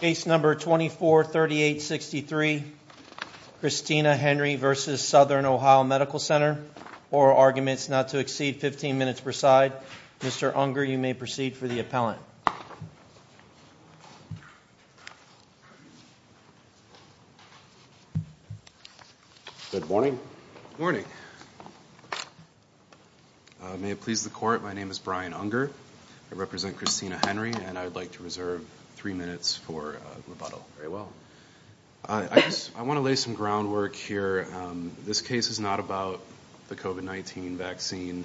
Case number 243863. Christina Henry v. Southern Ohio Medical Center. Oral arguments not to exceed 15 minutes per side. Mr. Unger, you may proceed for the appellant. Good morning. Morning. May it please the court, my name is Brian Unger. I represent Christina Henry and I'd like to reserve three minutes for rebuttal. Very well. I want to lay some groundwork here. This case is not about the COVID-19 vaccine.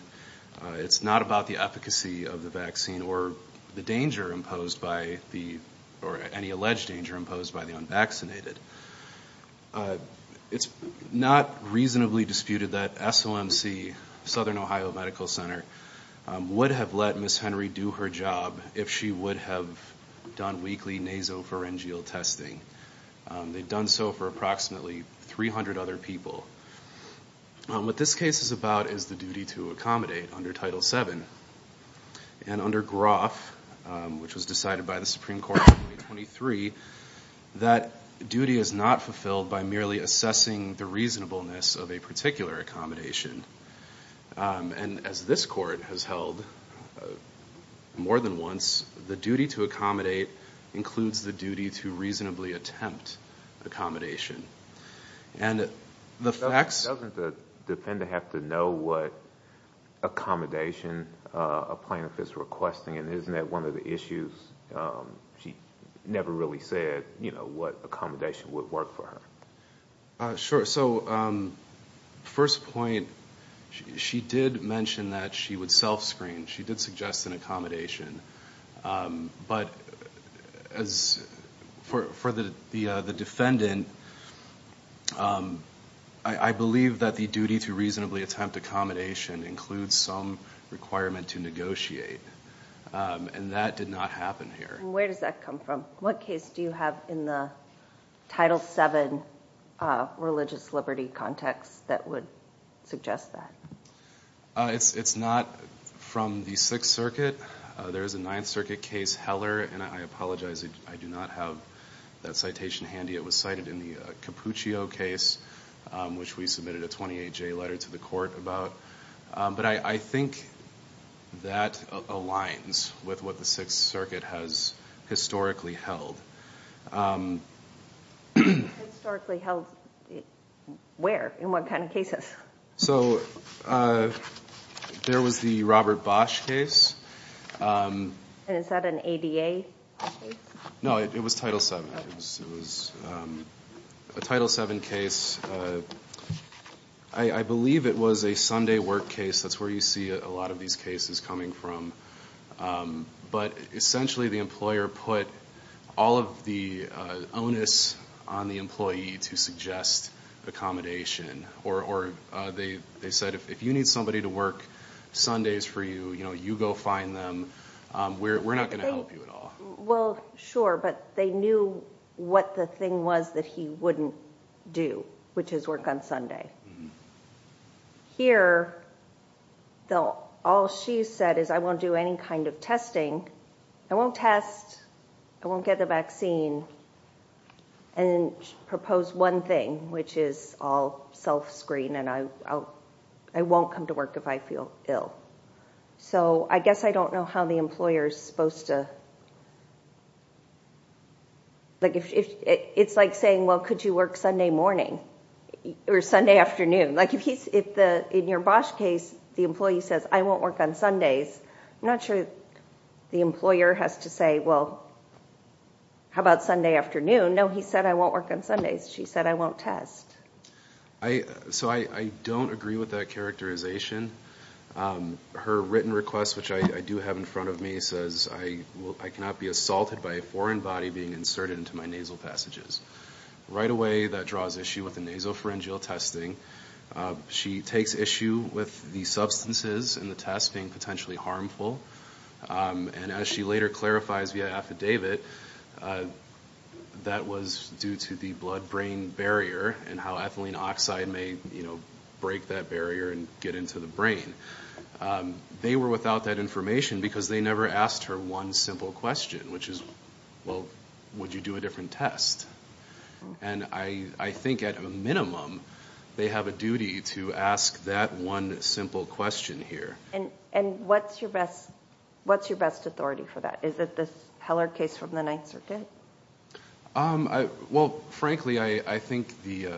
It's not about the efficacy of the vaccine or the danger imposed by the, or any alleged danger imposed by the unvaccinated. It's not reasonably disputed that SOMC, Southern Ohio Medical Center, would have let Ms. Henry do her job if she would have done weekly nasopharyngeal testing. They've done so for approximately 300 other people. What this case is about is the duty to accommodate under Title VII. And under Groff, which was decided by the Supreme Court in 2023, that duty is not fulfilled by merely assessing the reasonableness of a particular accommodation. And as this court has held more than once, the duty to accommodate includes the duty to reasonably attempt accommodation. And the facts... Doesn't the defendant have to know what accommodation a plaintiff is requesting? And isn't that one of the issues? She never really said, you know, what accommodation would work for her. Sure. So, first point, she did mention that she would self-screen. She did suggest an accommodation. But for the defendant, I believe that the duty to reasonably attempt accommodation includes some requirement to negotiate. And that did not happen here. And where does that come from? What case do you have in the Title VII religious liberty context that would suggest that? It's not from the Sixth Circuit. There is a Ninth Circuit case, Heller. And I apologize, I do not have that citation handy. It was cited in the Cappuccio case, which we submitted a 28-J letter to the court about. But I think that aligns with what the Sixth Circuit has historically held. Historically held where? In what kind of cases? So, there was the Robert Bosch case. And is that an ADA case? No, it was Title VII. It was a Title VII case. I believe it was a Sunday work case. That's where you see a lot of these cases coming from. But essentially, the employer put all of the onus on the employee to suggest accommodation. Or they said, if you need somebody to work Sundays for you, you know, you go find them. We're not going to help you at all. Well, sure. But they knew what the thing was that he wouldn't do, which is work on Sunday. Here, though, all she said is, I won't do any kind of testing. I won't test. I won't get the vaccine. And then she proposed one thing, which is I'll self-screen and I won't come to work if I feel ill. So, I guess I don't know how the employer is supposed to. It's like saying, well, could you work Sunday morning or Sunday afternoon? Like, in your Bosch case, the employee says, I won't work on Sundays. I'm not sure the employer has to say, well, how about Sunday afternoon? No, he said I won't work on Sundays. She said I won't test. So, I don't agree with that characterization. Her written request, which I do have in front of me, says I cannot be assaulted by a foreign body being inserted into my nasal passages. Right away, that draws issue with the nasopharyngeal testing. She takes issue with the substances in the test being potentially harmful. And as she later clarifies via affidavit, that was due to the blood-brain barrier and how ethylene oxide may break that barrier and get into the brain. They were without that information because they never asked her one simple question, which is, well, would you do a different test? And I think at a minimum, they have a duty to ask that one simple question here. And what's your best authority for that? Is it this Heller case from the Ninth Circuit? Well, frankly, I think the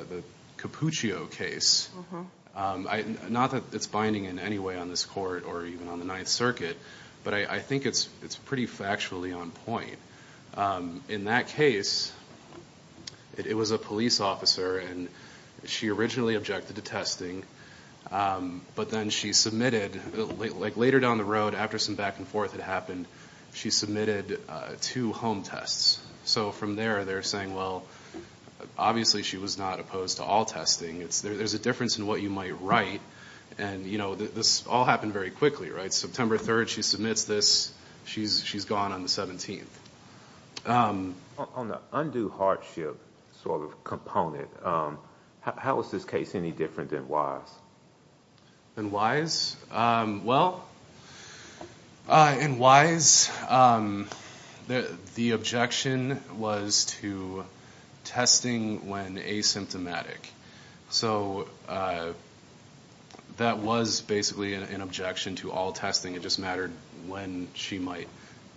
Cappuccio case, not that it's binding in any way on this Court or even on the Ninth Circuit, but I think it's pretty factually on point. In that case, it was a police officer and she originally objected to testing, but then she submitted, like later down the road after some back and forth had happened, she submitted two home tests. So from there, they're saying, well, obviously she was not opposed to all testing. There's a difference in what you might write. And this all happened very quickly, right? September 3rd, she submits this. She's gone on the 17th. On the undue hardship sort of component, how is this case any different than Wise? Than Wise? Well, in Wise, the objection was to testing when asymptomatic. So that was basically an objection to all testing. It just mattered when she might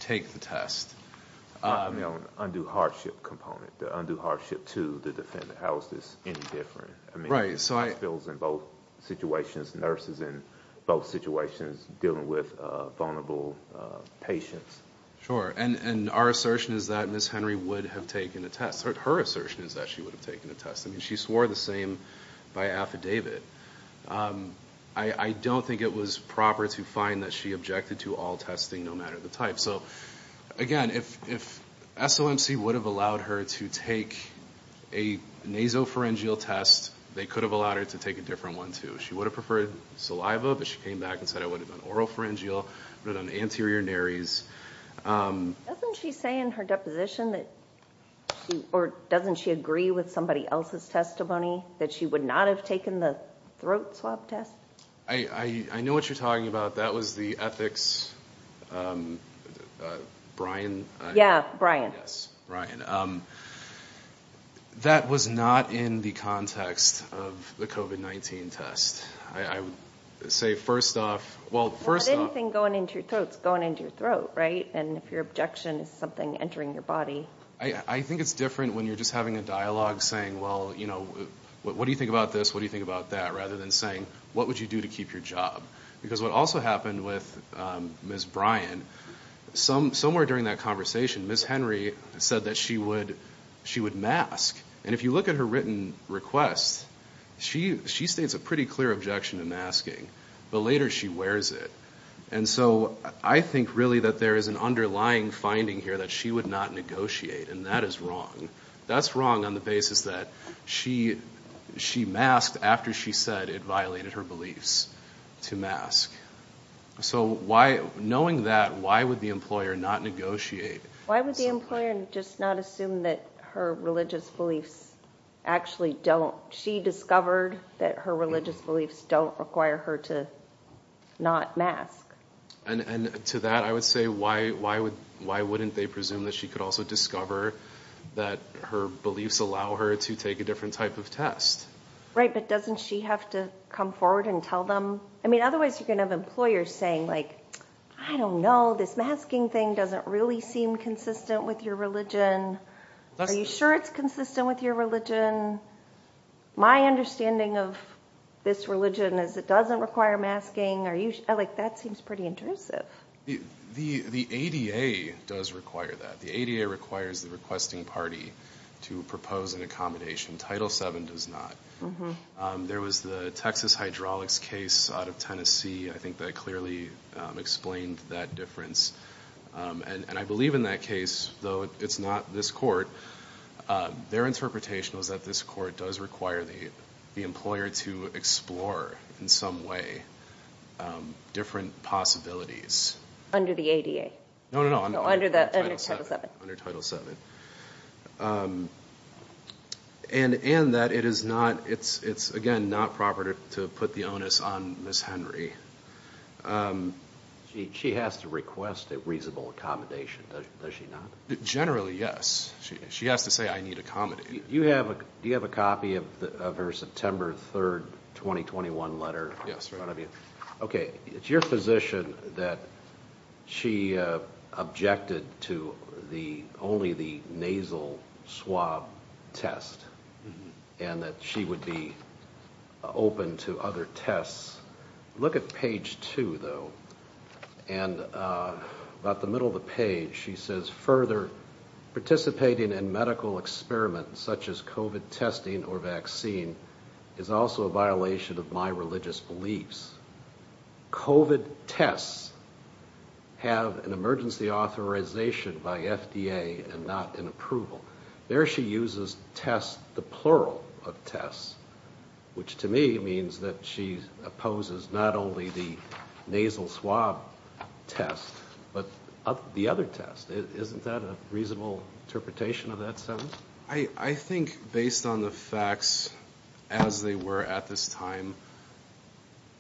take the test. The undue hardship component, the undue hardship to the defendant, how is this any different? I mean, there's hospitals in both situations, nurses in both situations dealing with vulnerable patients. Sure. And our assertion is that Ms. Henry would have taken a test. Her assertion is that she would have taken a test. I mean, she swore the same by affidavit. I don't think it was proper to find that she objected to all testing, no matter the type. So, again, if SOMC would have allowed her to take a nasopharyngeal test, they could have allowed her to take a different one, too. She would have preferred saliva, but she came back and said, I would have done oropharyngeal, I would have done anterior nares. Doesn't she say in her deposition, or doesn't she agree with somebody else's testimony, that she would not have taken the throat swab test? I know what you're talking about. That was the ethics, Brian? Yeah, Brian. Yes, Brian. That was not in the context of the COVID-19 test. I would say, first off, well, first off... Well, anything going into your throat is going into your throat, right? And if your objection is something entering your body... I think it's different when you're just having a dialogue saying, well, you know, what do you think about this, what do you think about that, rather than saying, what would you do to keep your job? Because what also happened with Ms. Brian, somewhere during that conversation, Ms. Henry said that she would mask. And if you look at her written request, she states a pretty clear objection to masking, but later she wears it. And so I think, really, that there is an underlying finding here that she would not negotiate, and that is wrong. That's wrong on the basis that she masked after she said it violated her beliefs to mask. So knowing that, why would the employer not negotiate? Why would the employer just not assume that her religious beliefs actually don't... She discovered that her religious beliefs don't require her to not mask. And to that, I would say, why wouldn't they presume that she could also discover that her beliefs allow her to take a different type of test? Right, but doesn't she have to come forward and tell them? I mean, otherwise you're going to have employers saying, I don't know, this masking thing doesn't really seem consistent with your religion. Are you sure it's consistent with your religion? My understanding of this religion is it doesn't require masking. That seems pretty intrusive. The ADA does require that. The ADA requires the requesting party to propose an accommodation. Title VII does not. There was the Texas hydraulics case out of Tennessee. I think that clearly explained that difference. And I believe in that case, though it's not this court, their interpretation was that this court does require the employer to explore in some way different possibilities. Under the ADA? No, no, no. Under Title VII. Under Title VII. And that it is, again, not proper to put the onus on Ms. Henry. She has to request a reasonable accommodation, does she not? Generally, yes. She has to say, I need accommodation. Do you have a copy of her September 3, 2021 letter in front of you? Okay, it's your position that she objected to only the nasal swab test and that she would be open to other tests. Look at page two, though. And about the middle of the page, she says, further, participating in medical experiments such as COVID testing or vaccine is also a violation of my religious beliefs. COVID tests have an emergency authorization by FDA and not an approval. There she uses test, the plural of test, which to me means that she opposes not only the nasal swab test, but the other test. Isn't that a reasonable interpretation of that sentence? I think based on the facts as they were at this time,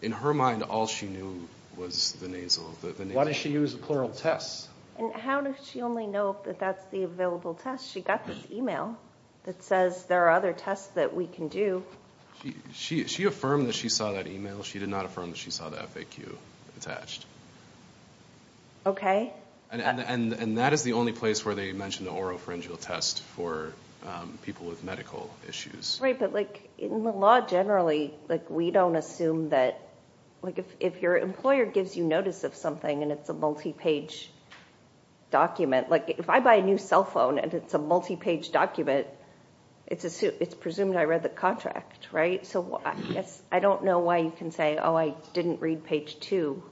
in her mind, all she knew was the nasal. Why does she use the plural test? And how does she only know that that's the available test? She got this email that says there are other tests that we can do. She affirmed that she saw that email. She did not affirm that she saw the FAQ attached. Okay. And that is the only place where they mentioned the oropharyngeal test for people with medical issues. In the law, generally, we don't assume that if your employer gives you notice of something and it's a multi-page document, like if I buy a new cell phone and it's a multi-page document, it's presumed I read the contract, right? So I don't know why you can say, oh, I didn't read page two.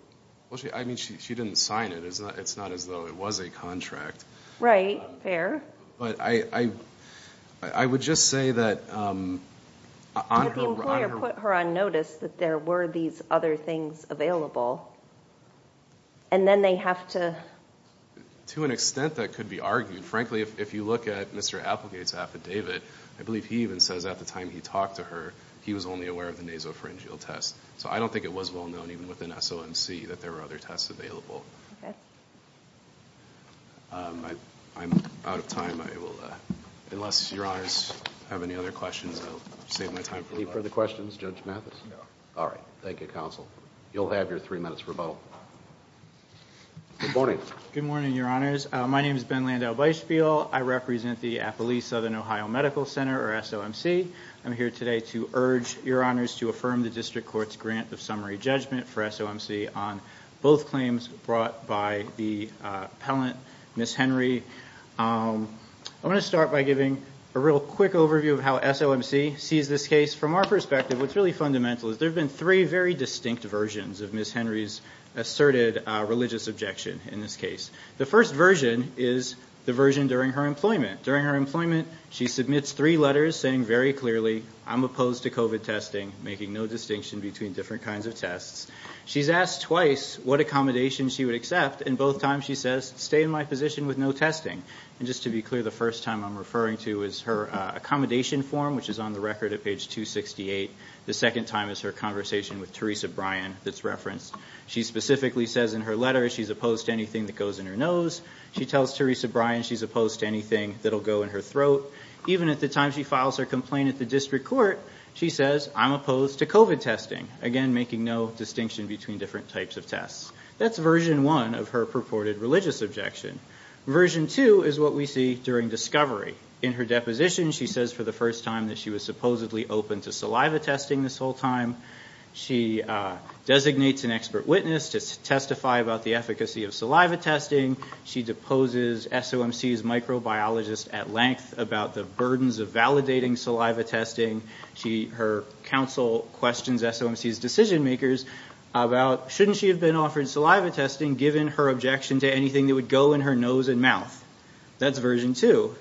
I mean, she didn't sign it. It's not as though it was a contract. Right. Fair. But I would just say that on her— The employer put her on notice that there were these other things available, and then they have to— To an extent that could be argued. Frankly, if you look at Mr. Applegate's affidavit, I believe he even says at the time he talked to her he was only aware of the nasopharyngeal test. So I don't think it was well known, even within SOMC, that there were other tests available. Okay. I'm out of time. I will—unless Your Honors have any other questions, I'll save my time for the rest. Any further questions, Judge Mathis? No. All right. Thank you, Counsel. You'll have your three minutes rebuttal. Good morning. Good morning, Your Honors. My name is Ben Landau-Bysheville. I represent the Applee Southern Ohio Medical Center, or SOMC. I'm here today to urge Your Honors to affirm the district court's grant of summary judgment for SOMC on both claims brought by the appellant, Ms. Henry. I want to start by giving a real quick overview of how SOMC sees this case. From our perspective, what's really fundamental is there have been three very distinct versions of Ms. Henry's asserted religious objection in this case. The first version is the version during her employment. She submits three letters saying very clearly, I'm opposed to COVID testing, making no distinction between different kinds of tests. She's asked twice what accommodation she would accept, and both times she says, stay in my position with no testing. And just to be clear, the first time I'm referring to is her accommodation form, which is on the record at page 268. The second time is her conversation with Teresa Bryan that's referenced. She specifically says in her letter she's opposed to anything that goes in her nose. She tells Teresa Bryan she's opposed to anything that'll go in her throat. Even at the time she files her complaint at the district court, she says, I'm opposed to COVID testing. Again, making no distinction between different types of tests. That's version one of her purported religious objection. Version two is what we see during discovery. In her deposition, she says for the first time that she was supposedly open to saliva testing this whole time. She designates an expert witness to testify about the efficacy of saliva testing. She deposes SOMC's microbiologist at length about the burdens of validating saliva testing. Her counsel questions SOMC's decision makers about, shouldn't she have been offered saliva testing, given her objection to anything that would go in her nose and mouth? That's version two.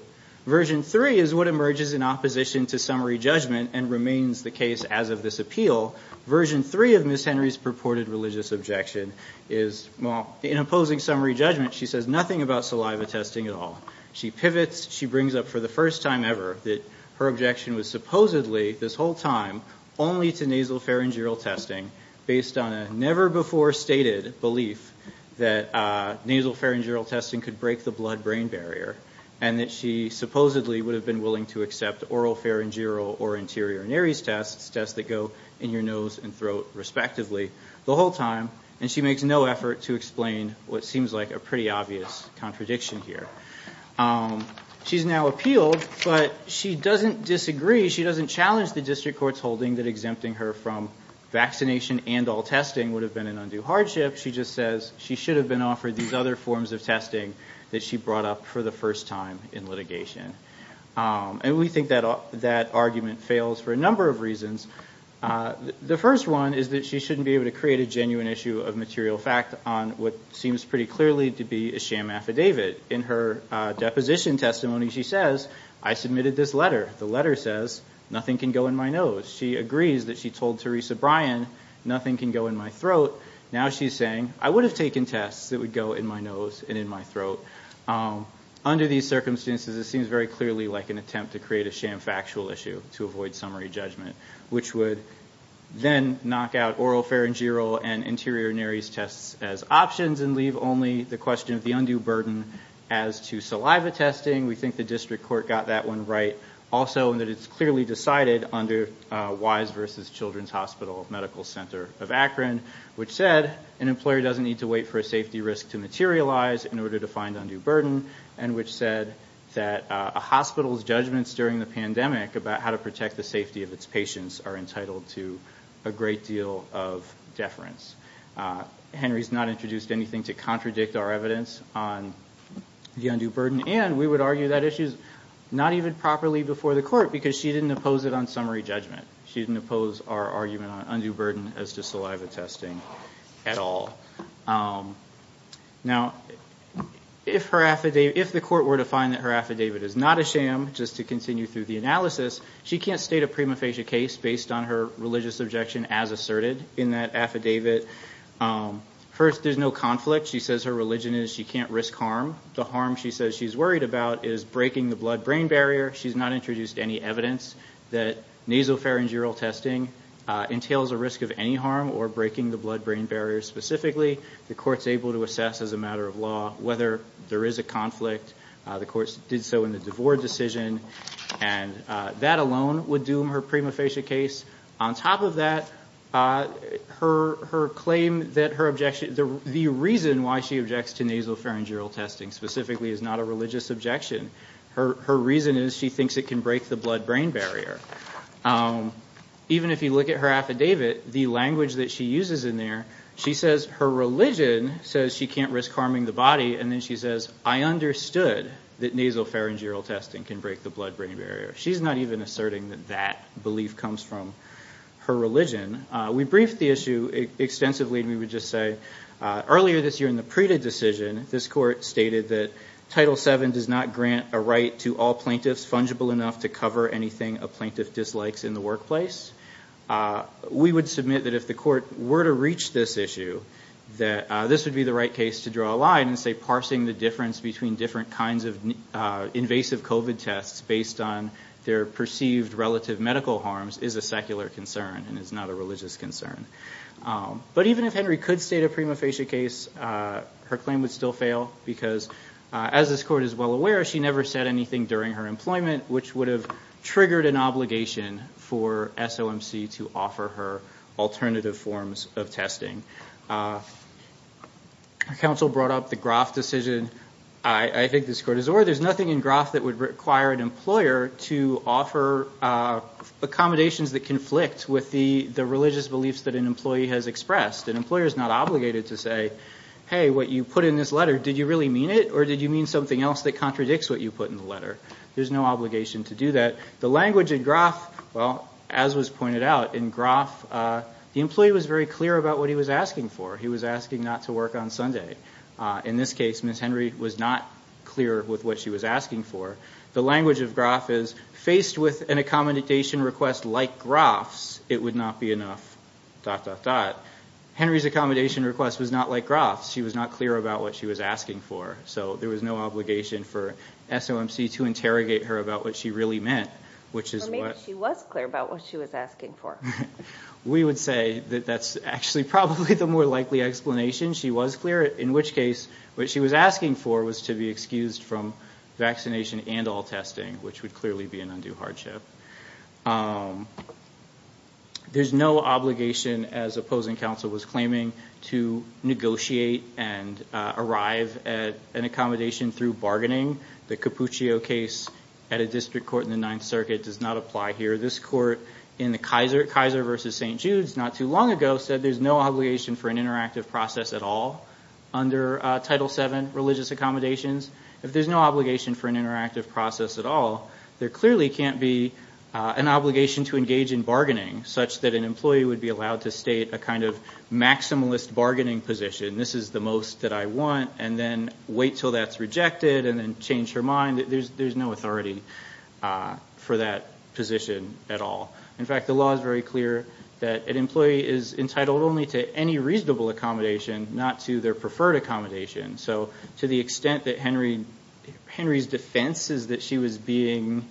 Version three is what emerges in opposition to summary judgment and remains the case as of this appeal. Version three of Ms. Henry's purported religious objection is, well, in opposing summary judgment, she says nothing about saliva testing at all. She pivots. She brings up for the first time ever that her objection was supposedly this whole time only to nasal pharyngeal testing, based on a never-before-stated belief that nasal pharyngeal testing could break the blood-brain barrier and that she supposedly would have been willing to accept oral pharyngeal or anterior nares tests, tests that go in your nose and throat, respectively, the whole time, and she makes no effort to explain what seems like a pretty obvious contradiction here. She's now appealed, but she doesn't disagree. She doesn't challenge the district court's holding that exempting her from vaccination and all testing would have been an undue hardship. She just says she should have been offered these other forms of testing that she brought up for the first time in litigation. And we think that argument fails for a number of reasons. The first one is that she shouldn't be able to create a genuine issue of material fact on what seems pretty clearly to be a sham affidavit. In her deposition testimony, she says, I submitted this letter. The letter says nothing can go in my nose. She agrees that she told Teresa Bryan nothing can go in my throat. Now she's saying, I would have taken tests that would go in my nose and in my throat. Under these circumstances, it seems very clearly like an attempt to create a sham factual issue to avoid summary judgment, which would then knock out oral pharyngeal and anterior nares tests as options and leave only the question of the undue burden as to saliva testing. We think the district court got that one right also, and that it's clearly decided under Wise versus Children's Hospital Medical Center of Akron, which said an employer doesn't need to wait for a safety risk to materialize in order to find undue burden, and which said that a hospital's judgments during the pandemic about how to protect the safety of its patients are entitled to a great deal of deference. Henry's not introduced anything to contradict our evidence on the undue burden, and we would argue that issue's not even properly before the court because she didn't oppose it on summary judgment. She didn't oppose our argument on undue burden as to saliva testing at all. Now, if the court were to find that her affidavit is not a sham, just to continue through the analysis, she can't state a prima facie case based on her religious objection as asserted in that affidavit. First, there's no conflict. She says her religion is she can't risk harm. The harm she says she's worried about is breaking the blood-brain barrier. She's not introduced any evidence that nasopharyngeal testing entails a risk of any harm or breaking the blood-brain barrier specifically. The court's able to assess as a matter of law whether there is a conflict. The court did so in the DeVore decision, and that alone would doom her prima facie case. On top of that, the reason why she objects to nasopharyngeal testing specifically is not a religious objection. Her reason is she thinks it can break the blood-brain barrier. Even if you look at her affidavit, the language that she uses in there, she says her religion says she can't risk harming the body, and then she says I understood that nasopharyngeal testing can break the blood-brain barrier. She's not even asserting that that belief comes from her religion. We briefed the issue extensively, and we would just say earlier this year in the Prita decision, this court stated that Title VII does not grant a right to all plaintiffs fungible enough to cover anything a plaintiff dislikes in the workplace. We would submit that if the court were to reach this issue that this would be the right case to draw a line and say parsing the difference between different kinds of invasive COVID tests based on their perceived relative medical harms is a secular concern and is not a religious concern. But even if Henry could state a prima facie case, her claim would still fail, because as this court is well aware, she never said anything during her employment, which would have triggered an obligation for SOMC to offer her alternative forms of testing. Our counsel brought up the Groff decision. I think this court is aware there's nothing in Groff that would require an employer to offer accommodations that conflict with the religious beliefs that an employee has expressed. An employer is not obligated to say, hey, what you put in this letter, did you really mean it, or did you mean something else that contradicts what you put in the letter? There's no obligation to do that. As was pointed out, in Groff, the employee was very clear about what he was asking for. He was asking not to work on Sunday. In this case, Ms. Henry was not clear with what she was asking for. The language of Groff is, faced with an accommodation request like Groff's, it would not be enough, dot, dot, dot. Henry's accommodation request was not like Groff's. She was not clear about what she was asking for. There was no obligation for SOMC to interrogate her about what she really meant. Maybe she was clear about what she was asking for. We would say that that's actually probably the more likely explanation. She was clear, in which case, what she was asking for was to be excused from vaccination and all testing, which would clearly be an undue hardship. There's no obligation, as opposing counsel was claiming, to negotiate and arrive at an accommodation through bargaining. The Cappuccio case at a district court in the Ninth Circuit does not apply here. This court in the Kaiser versus St. Jude's not too long ago said there's no obligation for an interactive process at all under Title VII religious accommodations. If there's no obligation for an interactive process at all, there clearly can't be an obligation to engage in bargaining, such that an employee would be allowed to state a kind of maximalist bargaining position, this is the most that I want, and then wait until that's rejected, and then change her mind. There's no authority for that position at all. In fact, the law is very clear that an employee is entitled only to any reasonable accommodation, not to their preferred accommodation. So to the extent that Henry's defense is that she was being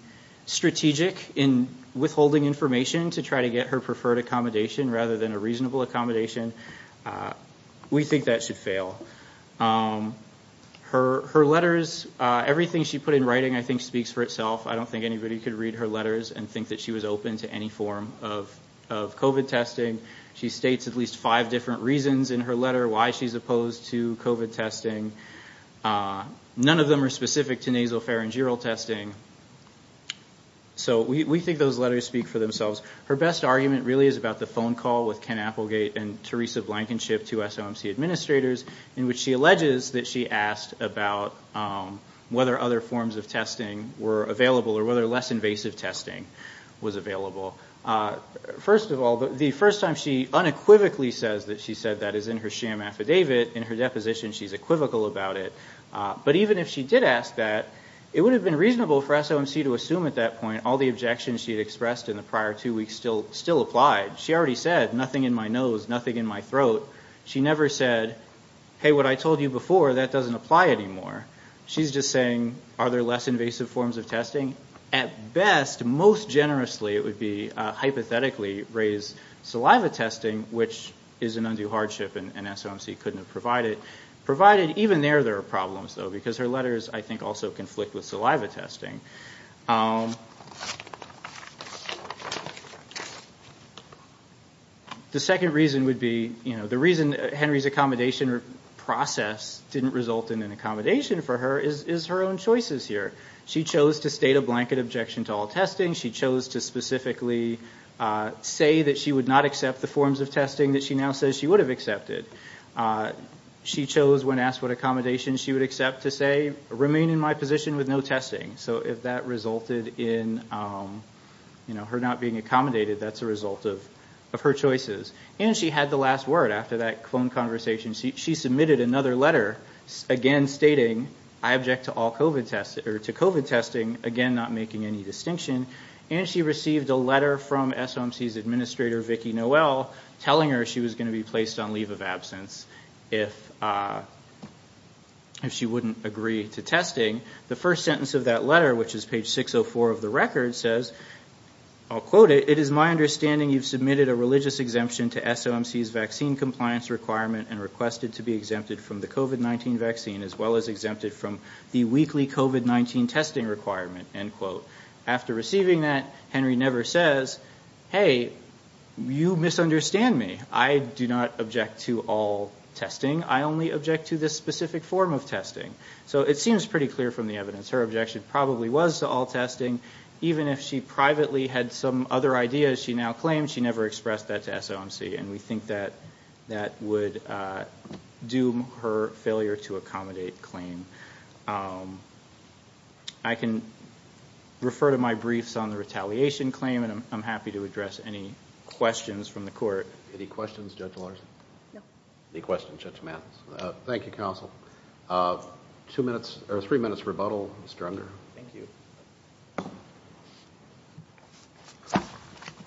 strategic in withholding information to try to get her preferred accommodation, rather than a reasonable accommodation, we think that should fail. Her letters, everything she put in writing, I think, speaks for itself. I don't think anybody could read her letters and think that she was open to any form of COVID testing. She states at least five different reasons in her letter why she's opposed to COVID testing. None of them are specific to nasal pharyngeal testing. So we think those letters speak for themselves. Her best argument really is about the phone call with Ken Applegate and Teresa Blankenship, two SOMC administrators, in which she alleges that she asked about whether other forms of testing were available, or whether less invasive testing was available. First of all, the first time she unequivocally says that she said that is in her sham affidavit. In her deposition, she's equivocal about it. But even if she did ask that, it would have been reasonable for SOMC to assume at that point all the objections she had expressed in the prior two weeks still applied. She already said, nothing in my nose, nothing in my throat. She never said, hey, what I told you before, that doesn't apply anymore. She's just saying, are there less invasive forms of testing? At best, most generously, it would be hypothetically, raise saliva testing, which is an undue hardship and SOMC couldn't have provided. Provided, even there, there are problems, though, because her letters, I think, also conflict with saliva testing. The second reason would be, you know, the reason Henry's accommodation process didn't result in an accommodation for her is her own choices here. She chose to state a blanket objection to all testing. She chose to specifically say that she would not accept the forms of testing that she now says she would have accepted. She chose, when asked what accommodations she would accept, to say, remain in my position with no testing. So if that resulted in, you know, her not being accommodated, that's a result of her choices. And she had the last word after that phone conversation. She submitted another letter, again, stating, I object to COVID testing, again, not making any distinction. And she received a letter from SOMC's administrator, Vicki Noel, telling her she was going to be placed on leave of absence if she wouldn't agree to testing. The first sentence of that letter, which is page 604 of the record, says, I'll quote it, it is my understanding you've submitted a religious exemption to SOMC's vaccine compliance requirement and requested to be exempted from the COVID-19 vaccine as well as exempted from the weekly COVID-19 testing requirement, end quote. After receiving that, Henry never says, hey, you misunderstand me. I do not object to all testing. I only object to this specific form of testing. So it seems pretty clear from the evidence. Her objection probably was to all testing. Even if she privately had some other ideas, she now claims she never expressed that to SOMC, and we think that that would doom her failure to accommodate claim. I can refer to my briefs on the retaliation claim, and I'm happy to address any questions from the court. Any questions, Judge Larson? No. Any questions, Judge Mathis? Thank you, Counsel. Two minutes or three minutes rebuttal, Mr. Unger. Thank you.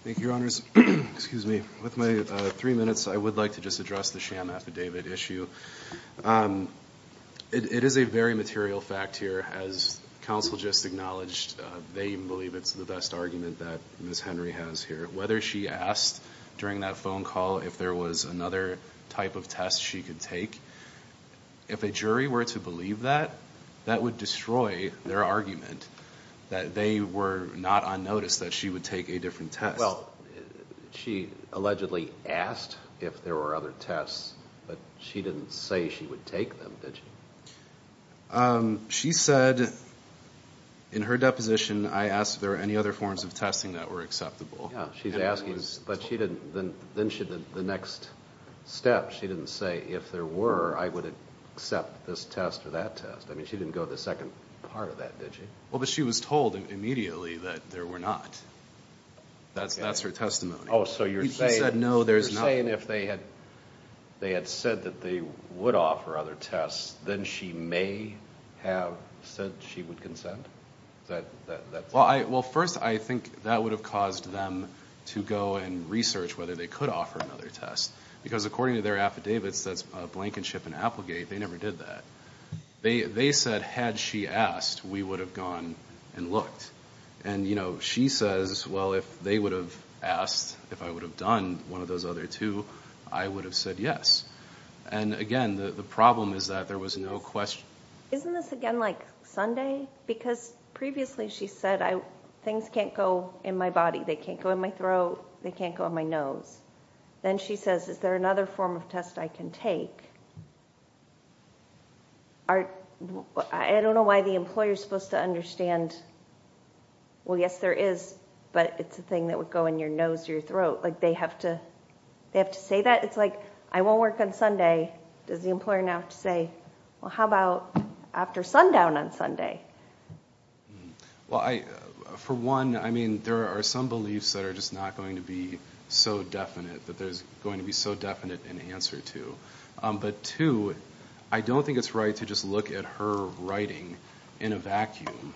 Thank you, Your Honors. Excuse me. With my three minutes, I would like to just address the sham affidavit issue. It is a very material fact here, as Counsel just acknowledged, they believe it's the best argument that Ms. Henry has here. Whether she asked during that phone call if there was another type of test she could take, if a jury were to believe that, that would destroy their argument that they were not on notice that she would take a different test. Well, she allegedly asked if there were other tests, but she didn't say she would take them, did she? She said in her deposition, I asked if there were any other forms of testing that were acceptable. Yeah, she's asking, but then the next step, she didn't say if there were, I would accept this test or that test. I mean, she didn't go to the second part of that, did she? Well, but she was told immediately that there were not. That's her testimony. Oh, so you're saying if they had said that they would offer other tests, then she may have said she would consent? Well, first, I think that would have caused them to go and research whether they could offer another test, because according to their affidavits, that's a blankenship and applegate. They never did that. They said had she asked, we would have gone and looked. And, you know, she says, well, if they would have asked, if I would have done one of those other two, I would have said yes. And, again, the problem is that there was no question. Isn't this, again, like Sunday? Because previously she said things can't go in my body. They can't go in my throat. They can't go in my nose. Then she says, is there another form of test I can take? I don't know why the employer is supposed to understand. Well, yes, there is, but it's a thing that would go in your nose or your throat. Like, they have to say that? It's like, I won't work on Sunday. Does the employer now have to say, well, how about after sundown on Sunday? Well, for one, I mean, there are some beliefs that are just not going to be so definite, that there's going to be so definite an answer to. But, two, I don't think it's right to just look at her writing in a vacuum.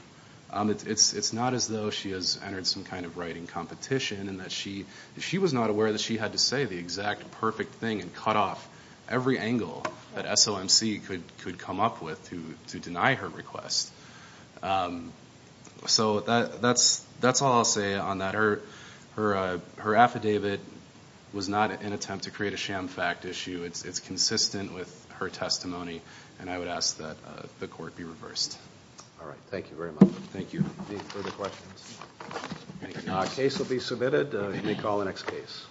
It's not as though she has entered some kind of writing competition and that she was not aware that she had to say the exact perfect thing and cut off every angle that SOMC could come up with to deny her request. So that's all I'll say on that. Her affidavit was not an attempt to create a sham fact issue. It's consistent with her testimony, and I would ask that the court be reversed. All right, thank you very much. Thank you. Any further questions? The case will be submitted. You may call the next case.